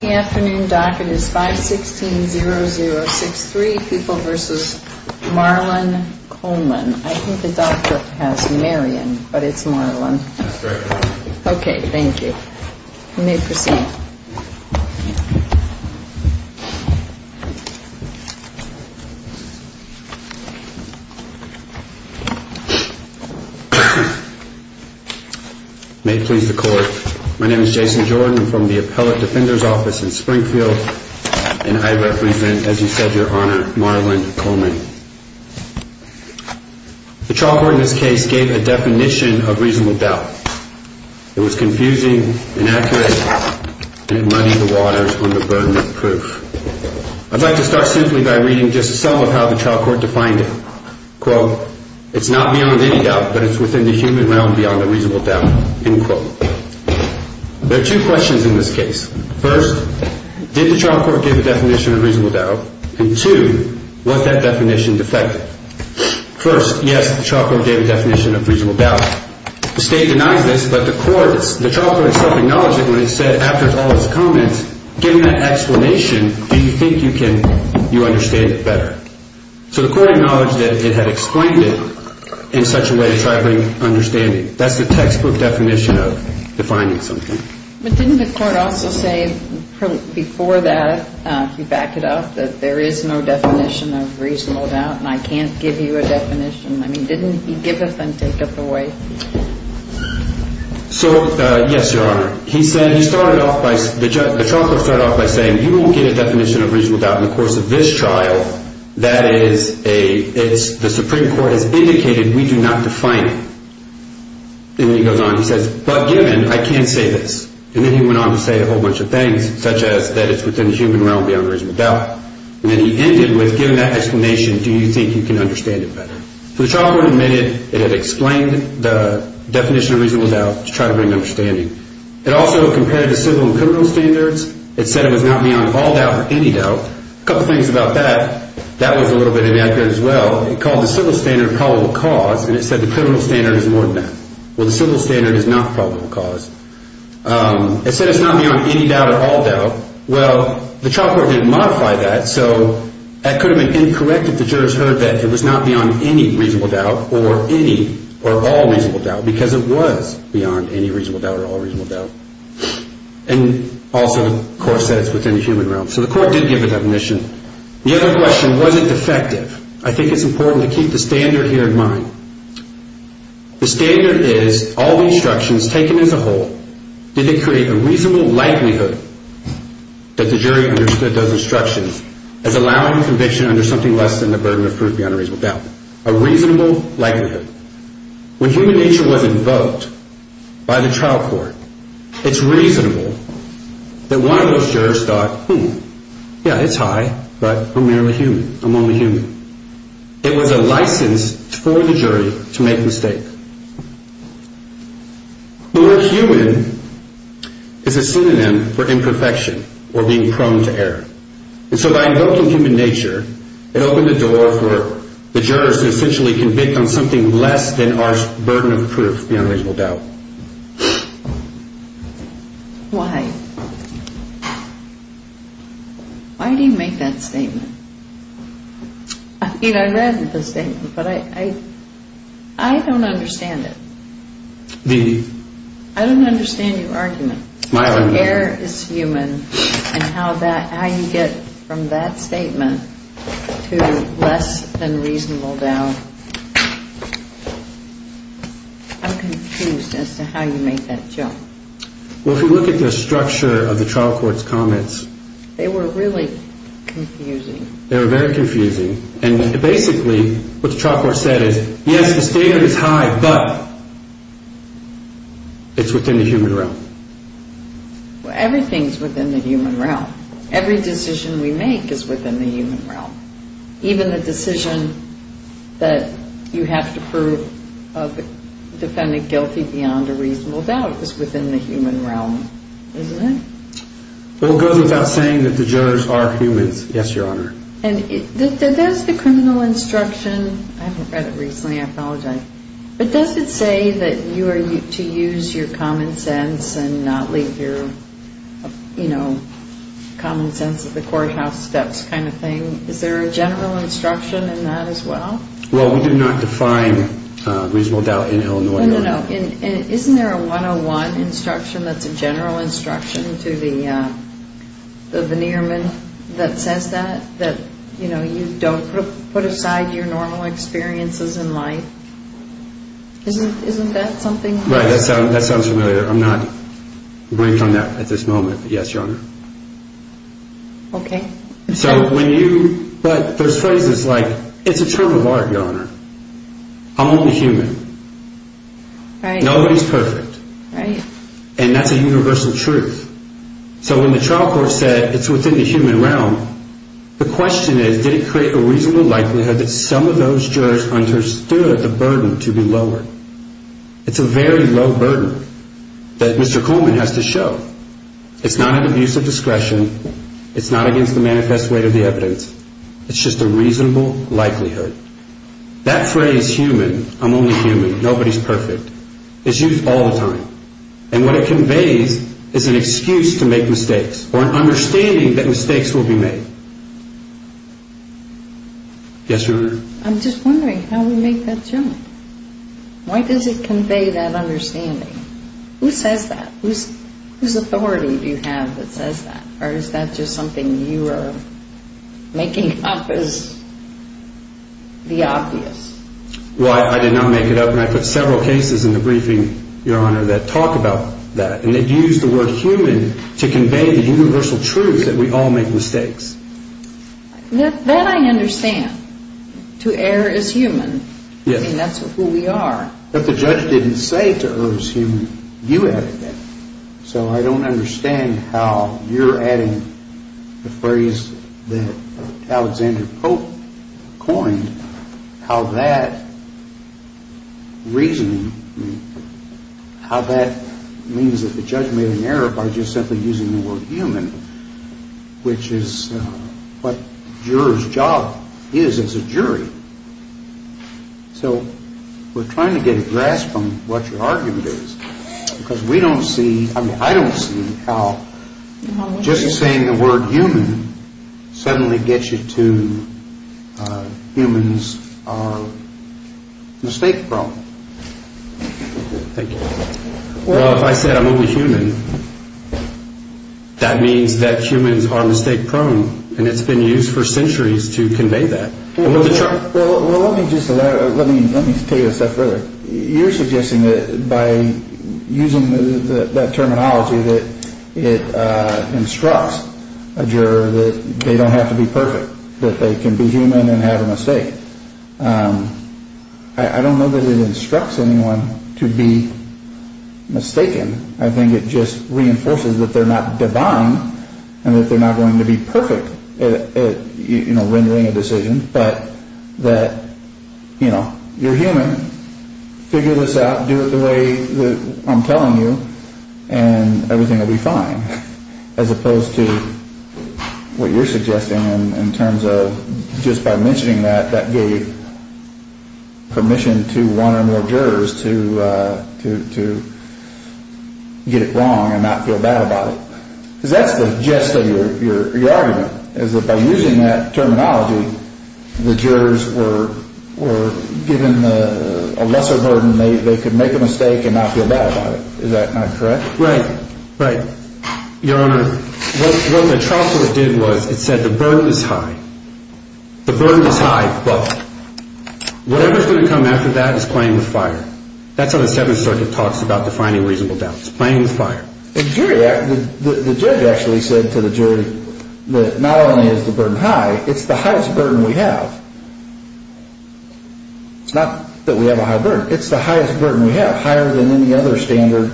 The afternoon docket is 516-0063, People v. Marlon Coleman. I think the doctor has Marion, but it's Marlon. That's correct. Okay, thank you. You may proceed. May it please the court. My name is Jason Jordan. I'm from the Appellate Defender's Office in Springfield, and I represent, as you said, Your Honor, Marlon Coleman. The trial court in this case gave a definition of reasonable doubt. It was confusing, inaccurate, and it muddied the waters on the burden of proof. I'd like to start simply by reading just some of how the trial court defined it. Quote, it's not beyond any doubt, but it's within the human realm beyond a reasonable doubt. End quote. There are two questions in this case. First, did the trial court give a definition of reasonable doubt? And two, was that definition defective? First, yes, the trial court gave a definition of reasonable doubt. The State denies this, but the court, the trial court itself acknowledged it when it said, after all its comments, given that explanation, do you think you can, you understand it better? So the court acknowledged that it had explained it in such a way to try to bring understanding. That's the textbook definition of defining something. But didn't the court also say before that, if you back it up, that there is no definition of reasonable doubt and I can't give you a definition? I mean, didn't he give it and take it away? So, yes, Your Honor. He said, he started off by, the trial court started off by saying, you won't get a definition of reasonable doubt in the course of this trial. That is a, it's, the Supreme Court has indicated we do not define it. Then he goes on, he says, but given, I can say this. And then he went on to say a whole bunch of things, such as that it's within the human realm beyond reasonable doubt. And then he ended with, given that explanation, do you think you can understand it better? So the trial court admitted it had explained the definition of reasonable doubt to try to bring understanding. It also compared the civil and criminal standards. It said it was not beyond all doubt or any doubt. A couple things about that, that was a little bit inaccurate as well. It called the civil standard probable cause, and it said the criminal standard is more than that. Well, the civil standard is not probable cause. It said it's not beyond any doubt or all doubt. Well, the trial court didn't modify that, so that could have been incorrect if the jurors heard that it was not beyond any reasonable doubt or any or all reasonable doubt, because it was beyond any reasonable doubt or all reasonable doubt. And also, the court said it's within the human realm. So the court did give a definition. The other question, was it defective? I think it's important to keep the standard here in mind. The standard is all the instructions taken as a whole, did they create a reasonable likelihood that the jury understood those instructions as allowing conviction under something less than the burden of proof beyond a reasonable doubt? A reasonable likelihood. When human nature was invoked by the trial court, it's reasonable that one of those jurors thought, hmm, yeah, it's high, but I'm merely human. I'm only human. It was a license for the jury to make a mistake. The word human is a synonym for imperfection or being prone to error. And so by invoking human nature, it opened the door for the jurors to essentially convict on something less than our burden of proof beyond reasonable doubt. Why? Why do you make that statement? I mean, I read the statement, but I don't understand it. Me neither. I don't understand your argument. My argument. Error is human, and how you get from that statement to less than reasonable doubt, I'm confused. As to how you make that jump. Well, if you look at the structure of the trial court's comments... They were really confusing. They were very confusing. And basically, what the trial court said is, yes, the standard is high, but it's within the human realm. Everything's within the human realm. Every decision we make is within the human realm. Even the decision that you have to prove a defendant guilty beyond a reasonable doubt is within the human realm, isn't it? Well, it goes without saying that the jurors are humans. Yes, Your Honor. And does the criminal instruction... I haven't read it recently. I apologize. But does it say that you are to use your common sense and not leave your common sense at the courthouse steps kind of thing? Is there a general instruction in that as well? Well, we do not define reasonable doubt in Illinois. No, no, no. Isn't there a 101 instruction that's a general instruction to the veneerman that says that? You know, you don't put aside your normal experiences in life. Isn't that something? Right, that sounds familiar. I'm not going to comment on that at this moment. Yes, Your Honor. Okay. So when you... But there's phrases like, it's a term of art, Your Honor. I'm only human. Right. Nobody's perfect. Right. And that's a universal truth. So when the trial court said it's within the human realm, the question is, did it create a reasonable likelihood that some of those jurors understood the burden to be lower? It's a very low burden that Mr. Coleman has to show. It's not an abuse of discretion. It's not against the manifest weight of the evidence. It's just a reasonable likelihood. That phrase, human, I'm only human, nobody's perfect, is used all the time. And what it conveys is an excuse to make mistakes or an understanding that mistakes will be made. Yes, Your Honor. I'm just wondering how we make that jump. Why does it convey that understanding? Who says that? Whose authority do you have that says that? Or is that just something you are making up as the obvious? Well, I did not make it up, and I put several cases in the briefing, Your Honor, that talk about that. And they use the word human to convey the universal truth that we all make mistakes. That I understand. To err is human. Yes. I mean, that's who we are. But the judge didn't say to err is human. You added that. So I don't understand how you're adding the phrase that Alexander Pope coined, how that reasoning, how that means that the judge made an error by just simply using the word human, which is what a juror's job is as a jury. So we're trying to get a grasp on what your argument is. Because we don't see, I mean, I don't see how just saying the word human suddenly gets you to humans are mistake-prone. Thank you. Well, if I said I'm only human, that means that humans are mistake-prone. And it's been used for centuries to convey that. Well, let me just take it a step further. You're suggesting that by using that terminology that it instructs a juror that they don't have to be perfect, that they can be human and have a mistake. I don't know that it instructs anyone to be mistaken. I think it just reinforces that they're not divine and that they're not going to be perfect at rendering a decision, but that you're human, figure this out, do it the way that I'm telling you, and everything will be fine. As opposed to what you're suggesting in terms of just by mentioning that, that gave permission to one or more jurors to get it wrong and not feel bad about it. Because that's the gist of your argument, is that by using that terminology, the jurors were given a lesser burden, they could make a mistake and not feel bad about it. Is that not correct? Right, right. Your Honor, what the trial court did was it said the burden is high. The burden is high, but whatever's going to come after that is playing with fire. That's how the Seventh Circuit talks about defining reasonable doubts, playing with fire. The judge actually said to the jury that not only is the burden high, it's the highest burden we have. It's not that we have a high burden. It's the highest burden we have, higher than any other standard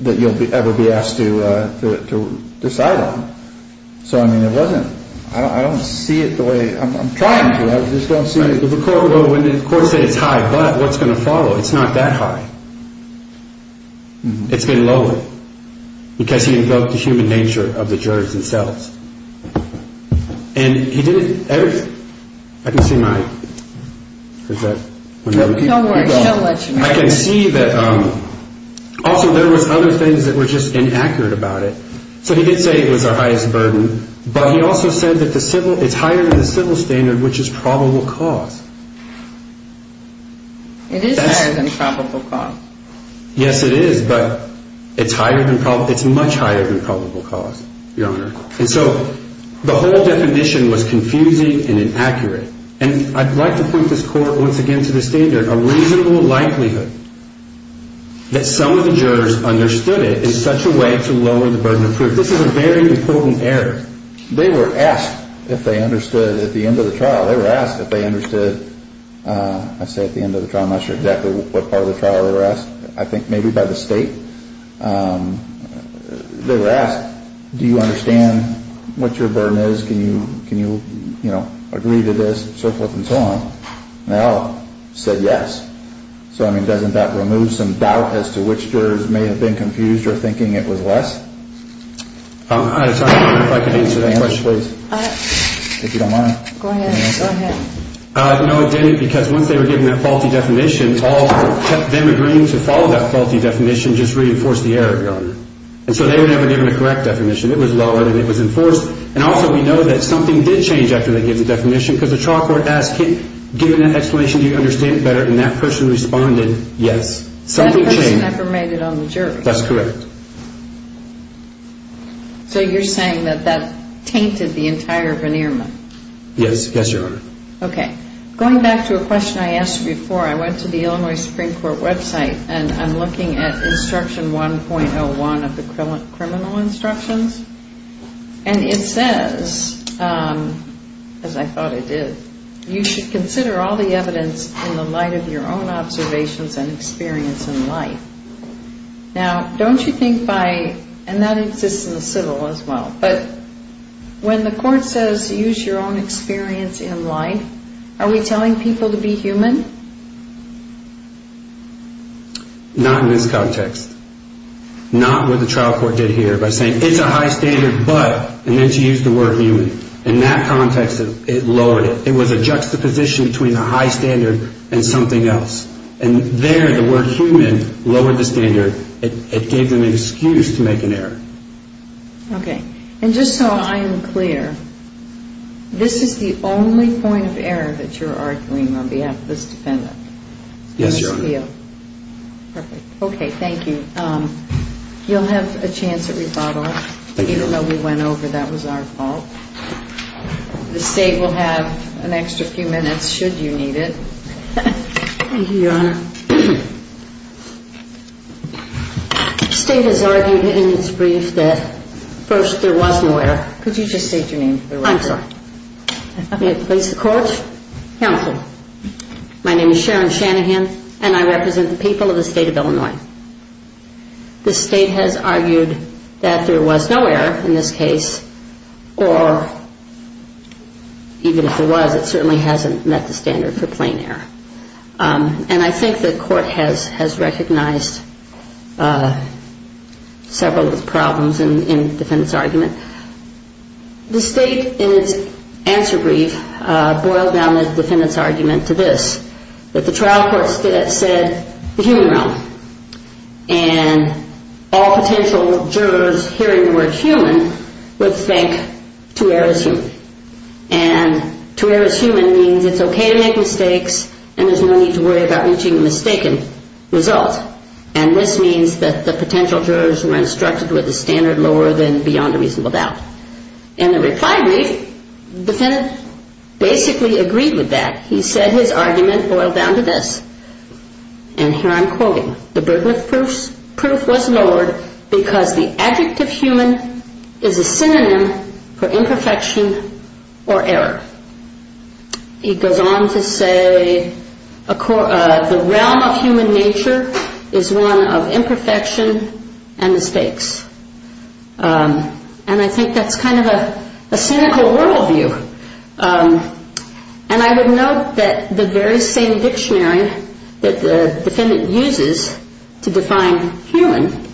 that you'll ever be asked to decide on. So, I mean, it wasn't, I don't see it the way, I'm trying to, I just don't see it. The court said it's high, but what's going to follow? It's not that high. It's been lowered because he invoked the human nature of the jurors themselves. And he did everything, I can see my, is that one of the other people? Don't worry, she'll let you know. I can see that, also there was other things that were just inaccurate about it. So he did say it was our highest burden, but he also said that the civil, it's higher than the civil standard, which is probable cause. It is higher than probable cause. Yes, it is, but it's higher than probable, it's much higher than probable cause, Your Honor. And so the whole definition was confusing and inaccurate. And I'd like to put this court once again to the standard, a reasonable likelihood that some of the jurors understood it is such a way to lower the burden of proof. This is a very important error. They were asked if they understood at the end of the trial, they were asked if they understood, I'd say at the end of the trial, I'm not sure exactly what part of the trial they were asked, I think maybe by the state. They were asked, do you understand what your burden is, can you, you know, agree to this, so forth and so on. They all said yes. So, I mean, doesn't that remove some doubt as to which jurors may have been confused or thinking it was less? I'm sorry, Your Honor, if I could answer that question, please. If you don't mind. Go ahead, go ahead. No, it didn't, because once they were given that faulty definition, all of them agreeing to follow that faulty definition just reinforced the error, Your Honor. And so they were never given a correct definition. It was lowered and it was enforced. And also we know that something did change after they gave the definition, because the trial court asked him, given that explanation, do you understand it better, and that person responded, yes. Something changed. That person never made it on the jury. That's correct. So you're saying that that tainted the entire veneerment? Yes, yes, Your Honor. Okay. Going back to a question I asked before, I went to the Illinois Supreme Court website, and I'm looking at instruction 1.01 of the criminal instructions, and it says, as I thought it did, you should consider all the evidence in the light of your own observations and experience in life. Now, don't you think by, and that exists in the civil as well, but when the court says use your own experience in life, are we telling people to be human? Not in this context. Not what the trial court did here by saying it's a high standard, but I meant to use the word human. In that context, it lowered it. It was a juxtaposition between a high standard and something else. And there the word human lowered the standard. It gave them an excuse to make an error. Okay. And just so I am clear, this is the only point of error that you're arguing on behalf of this defendant? Yes, Your Honor. Perfect. Okay. Thank you. You'll have a chance at rebuttal, even though we went over that was our fault. The State will have an extra few minutes should you need it. Thank you, Your Honor. The State has argued in its brief that, first, there was no error. Could you just state your name for the record? I'm sorry. May it please the Court? Counsel. My name is Sharon Shanahan, and I represent the people of the State of Illinois. The State has argued that there was no error in this case, or even if there was, it certainly hasn't met the standard for plain error. And I think the Court has recognized several of the problems in the defendant's argument. The State, in its answer brief, boiled down the defendant's argument to this, that the trial court said the human realm, and all potential jurors hearing the word human would think two errors human. And two errors human means it's okay to make mistakes and there's no need to worry about reaching a mistaken result. And this means that the potential jurors were instructed with a standard lower than beyond a reasonable doubt. In the reply brief, the defendant basically agreed with that. He said his argument boiled down to this. And here I'm quoting. The burden of proof was lowered because the adjective human is a synonym for imperfection or error. He goes on to say the realm of human nature is one of imperfection and mistakes. And I think that's kind of a cynical worldview. And I would note that the very same dictionary that the defendant uses to define human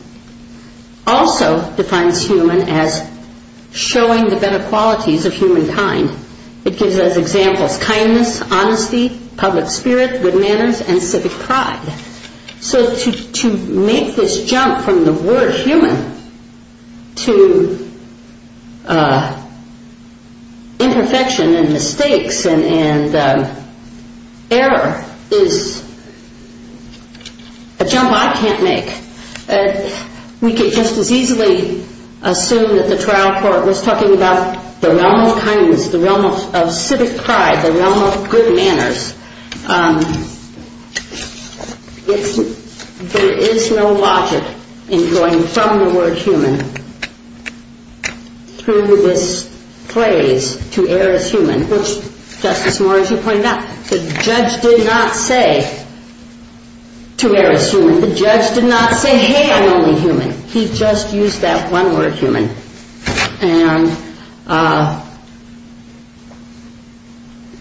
also defines human as showing the better qualities of humankind. It gives us examples, kindness, honesty, public spirit, good manners, and civic pride. So to make this jump from the word human to imperfection and mistakes and error is a jump I can't make. We could just as easily assume that the trial court was talking about the realm of kindness, the realm of civic pride, the realm of good manners. There is no logic in going from the word human through this phrase to err is human, which, Justice Moore, as you point out, the judge did not say to err is human. The judge did not say, hey, I'm only human. And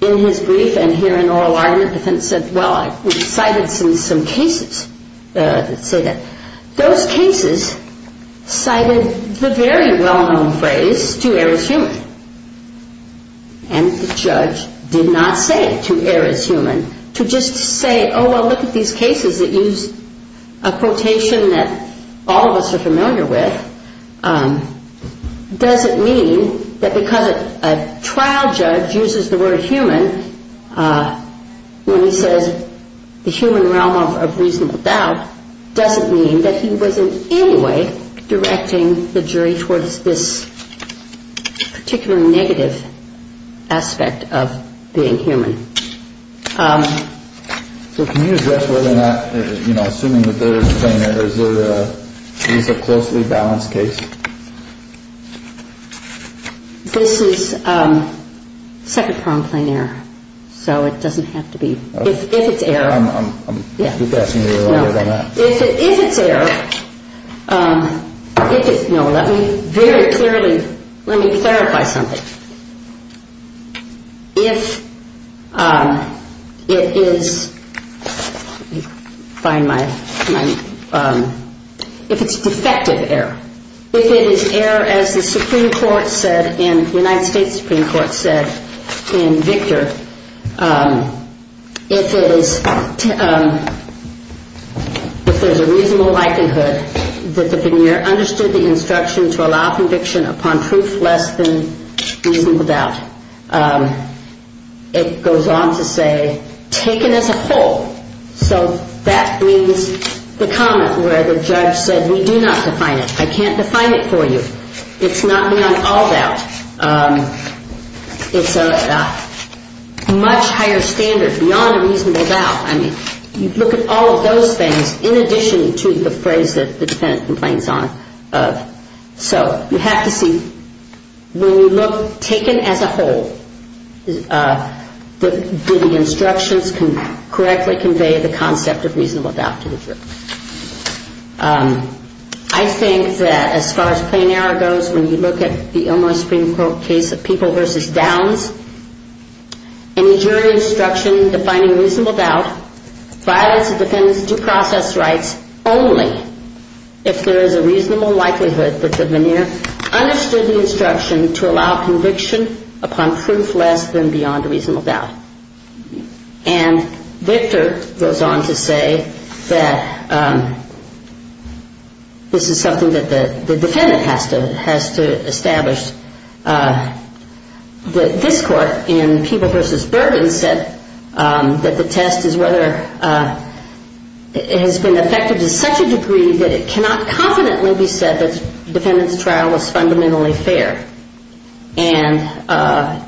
in his brief and here in oral argument, the defendant said, well, I cited some cases that say that. Those cases cited the very well-known phrase to err is human. And the judge did not say to err is human to just say, oh, well, look at these cases that use a quotation that all of us are familiar with. Does it mean that because a trial judge uses the word human when he says the human realm of reasonable doubt, does it mean that he was in any way directing the jury towards this particularly negative aspect of being human? So can you address whether or not, you know, assuming that there is a plain error, is there a closely balanced case? This is second-pronged plain error. So it doesn't have to be. If it's err. I'm asking you to elaborate on that. If it's err, no, let me very clearly, let me clarify something. If it is, let me find my, if it's defective err. If it is err, as the Supreme Court said in, the United States Supreme Court said in Victor, if it is, if there's a reasonable likelihood that the veneer understood the instruction to allow conviction upon proof less than reasonable doubt, it goes on to say taken as a whole. So that means the comment where the judge said we do not define it. I can't define it for you. It's not beyond all doubt. It's a much higher standard beyond a reasonable doubt. I mean, you look at all of those things in addition to the phrase that the defendant complains of. So you have to see when you look taken as a whole, do the instructions correctly convey the concept of reasonable doubt to the jury? I think that as far as plain error goes, when you look at the Illinois Supreme Court case of people versus downs, any jury instruction defining reasonable doubt violates the defendant's due process rights only if there is a reasonable likelihood that the veneer understood the instruction to allow conviction upon proof less than beyond reasonable doubt. And Victor goes on to say that this is something that the defendant has to establish. And this court in people versus Burden said that the test is whether it has been effective to such a degree that it cannot confidently be said that the defendant's trial was fundamentally fair. And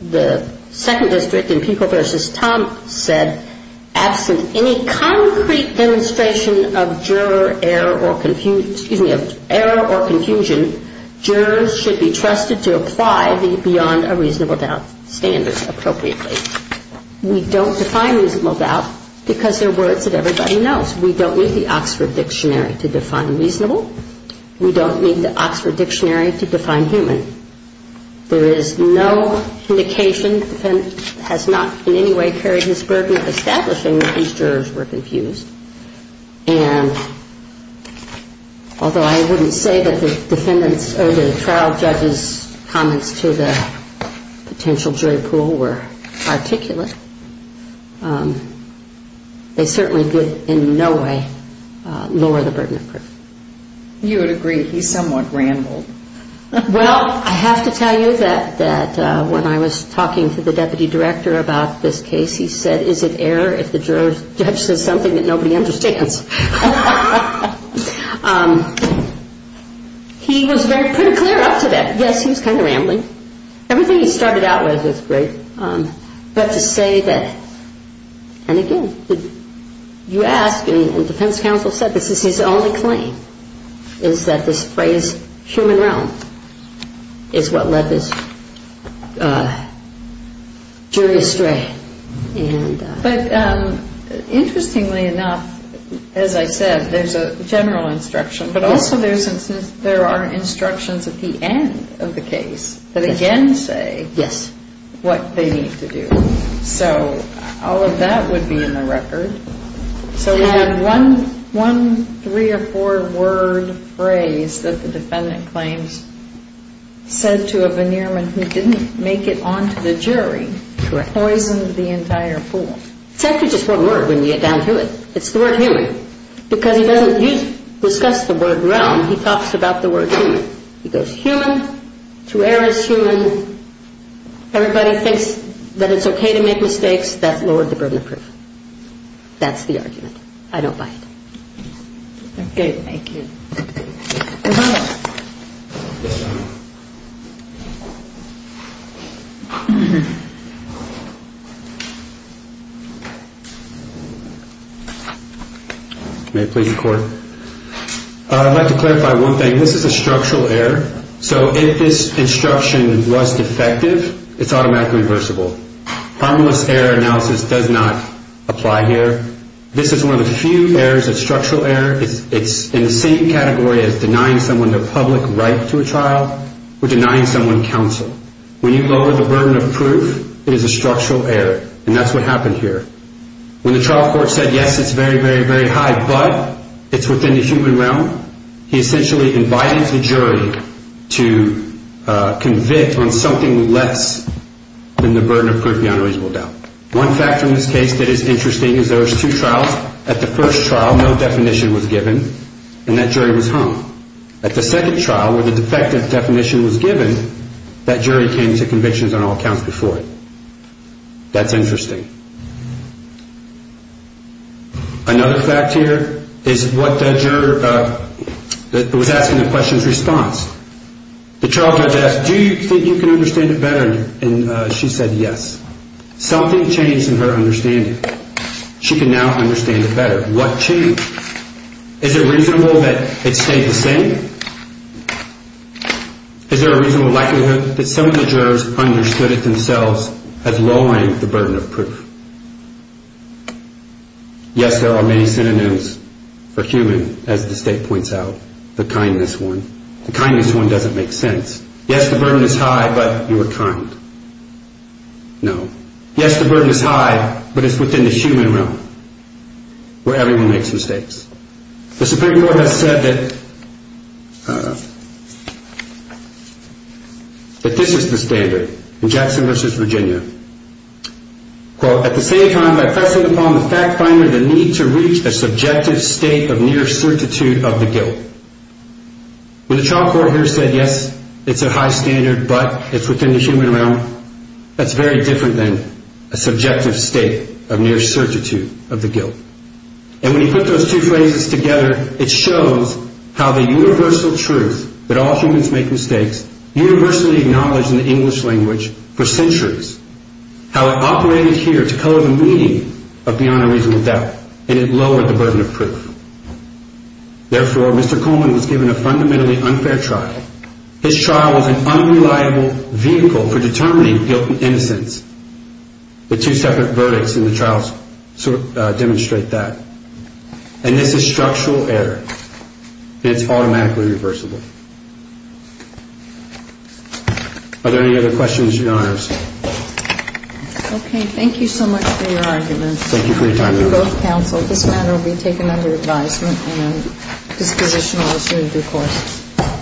the second district in people versus Thompson said absent any concrete demonstration of error or confusion, jurors should be trusted to apply the beyond a reasonable doubt standard appropriately. We don't define reasonable doubt because they're words that everybody knows. We don't need the Oxford Dictionary to define reasonable. We don't need the Oxford Dictionary to define human. There is no indication that the defendant has not in any way carried his burden of establishing that these jurors were confused. And although I wouldn't say that the trial judge's comments to the potential jury pool were articulate, they certainly did in no way lower the burden of proof. You would agree he somewhat rambled. Well, I have to tell you that when I was talking to the deputy director about this case, he said, is it error if the judge says something that nobody understands? He was very pretty clear up to that. Yes, he was kind of rambling. Everything he started out with was great. But to say that, and again, you ask me, and defense counsel said this is his only claim, is that this phrase human realm is what led this jury astray. But interestingly enough, as I said, there's a general instruction, but also there are instructions at the end of the case that again say what they need to do. So all of that would be in the record. So we have one three or four-word phrase that the defendant claims said to a veneerman who didn't make it on to the jury, poisoned the entire pool. It's actually just one word when you get down to it. It's the word human. Because he doesn't discuss the word realm. He talks about the word human. He goes human, through error is human, everybody thinks that it's okay to make mistakes, that's lower the burden of proof. That's the argument. I don't buy it. Okay, thank you. May I please record? I'd like to clarify one thing. This is a structural error. So if this instruction was defective, it's automatically reversible. Harmless error analysis does not apply here. This is one of the few errors, a structural error. It's in the same category as denying someone their public right to a trial or denying someone counsel. When you lower the burden of proof, it is a structural error, and that's what happened here. When the trial court said, yes, it's very, very, very high, but it's within the human realm, he essentially invited the jury to convict on something less than the burden of proof beyond reasonable doubt. One factor in this case that is interesting is there was two trials. At the first trial, no definition was given, and that jury was hung. At the second trial, where the defective definition was given, that jury came to convictions on all counts before it. That's interesting. Another fact here is what the juror that was asking the question's response. The trial judge asked, do you think you can understand it better, and she said yes. Something changed in her understanding. She can now understand it better. What changed? Is it reasonable that it stayed the same? Is there a reasonable likelihood that some of the jurors understood it themselves as lowering the burden of proof? Yes, there are many synonyms for human, as the state points out, the kindness one. The kindness one doesn't make sense. Yes, the burden is high, but you are kind. No. Yes, the burden is high, but it's within the human realm where everyone makes mistakes. The Supreme Court has said that this is the standard. In Jackson v. Virginia. Quote, at the same time, by pressing upon the fact finder the need to reach a subjective state of near certitude of the guilt. When the trial court here said yes, it's a high standard, but it's within the human realm, that's very different than a subjective state of near certitude of the guilt. And when you put those two phrases together, it shows how the universal truth, that all humans make mistakes, universally acknowledged in the English language for centuries. How it operated here to cover the meaning of beyond a reasonable doubt, and it lowered the burden of proof. Therefore, Mr. Coleman was given a fundamentally unfair trial. His trial was an unreliable vehicle for determining guilt and innocence. The two separate verdicts in the trial demonstrate that. And this is structural error. It's automatically reversible. Are there any other questions, Your Honors? Okay, thank you so much for your argument. Thank you for your time, Your Honor. Thank you both, counsel. This matter will be taken under advisement, and a disposition will assume due course.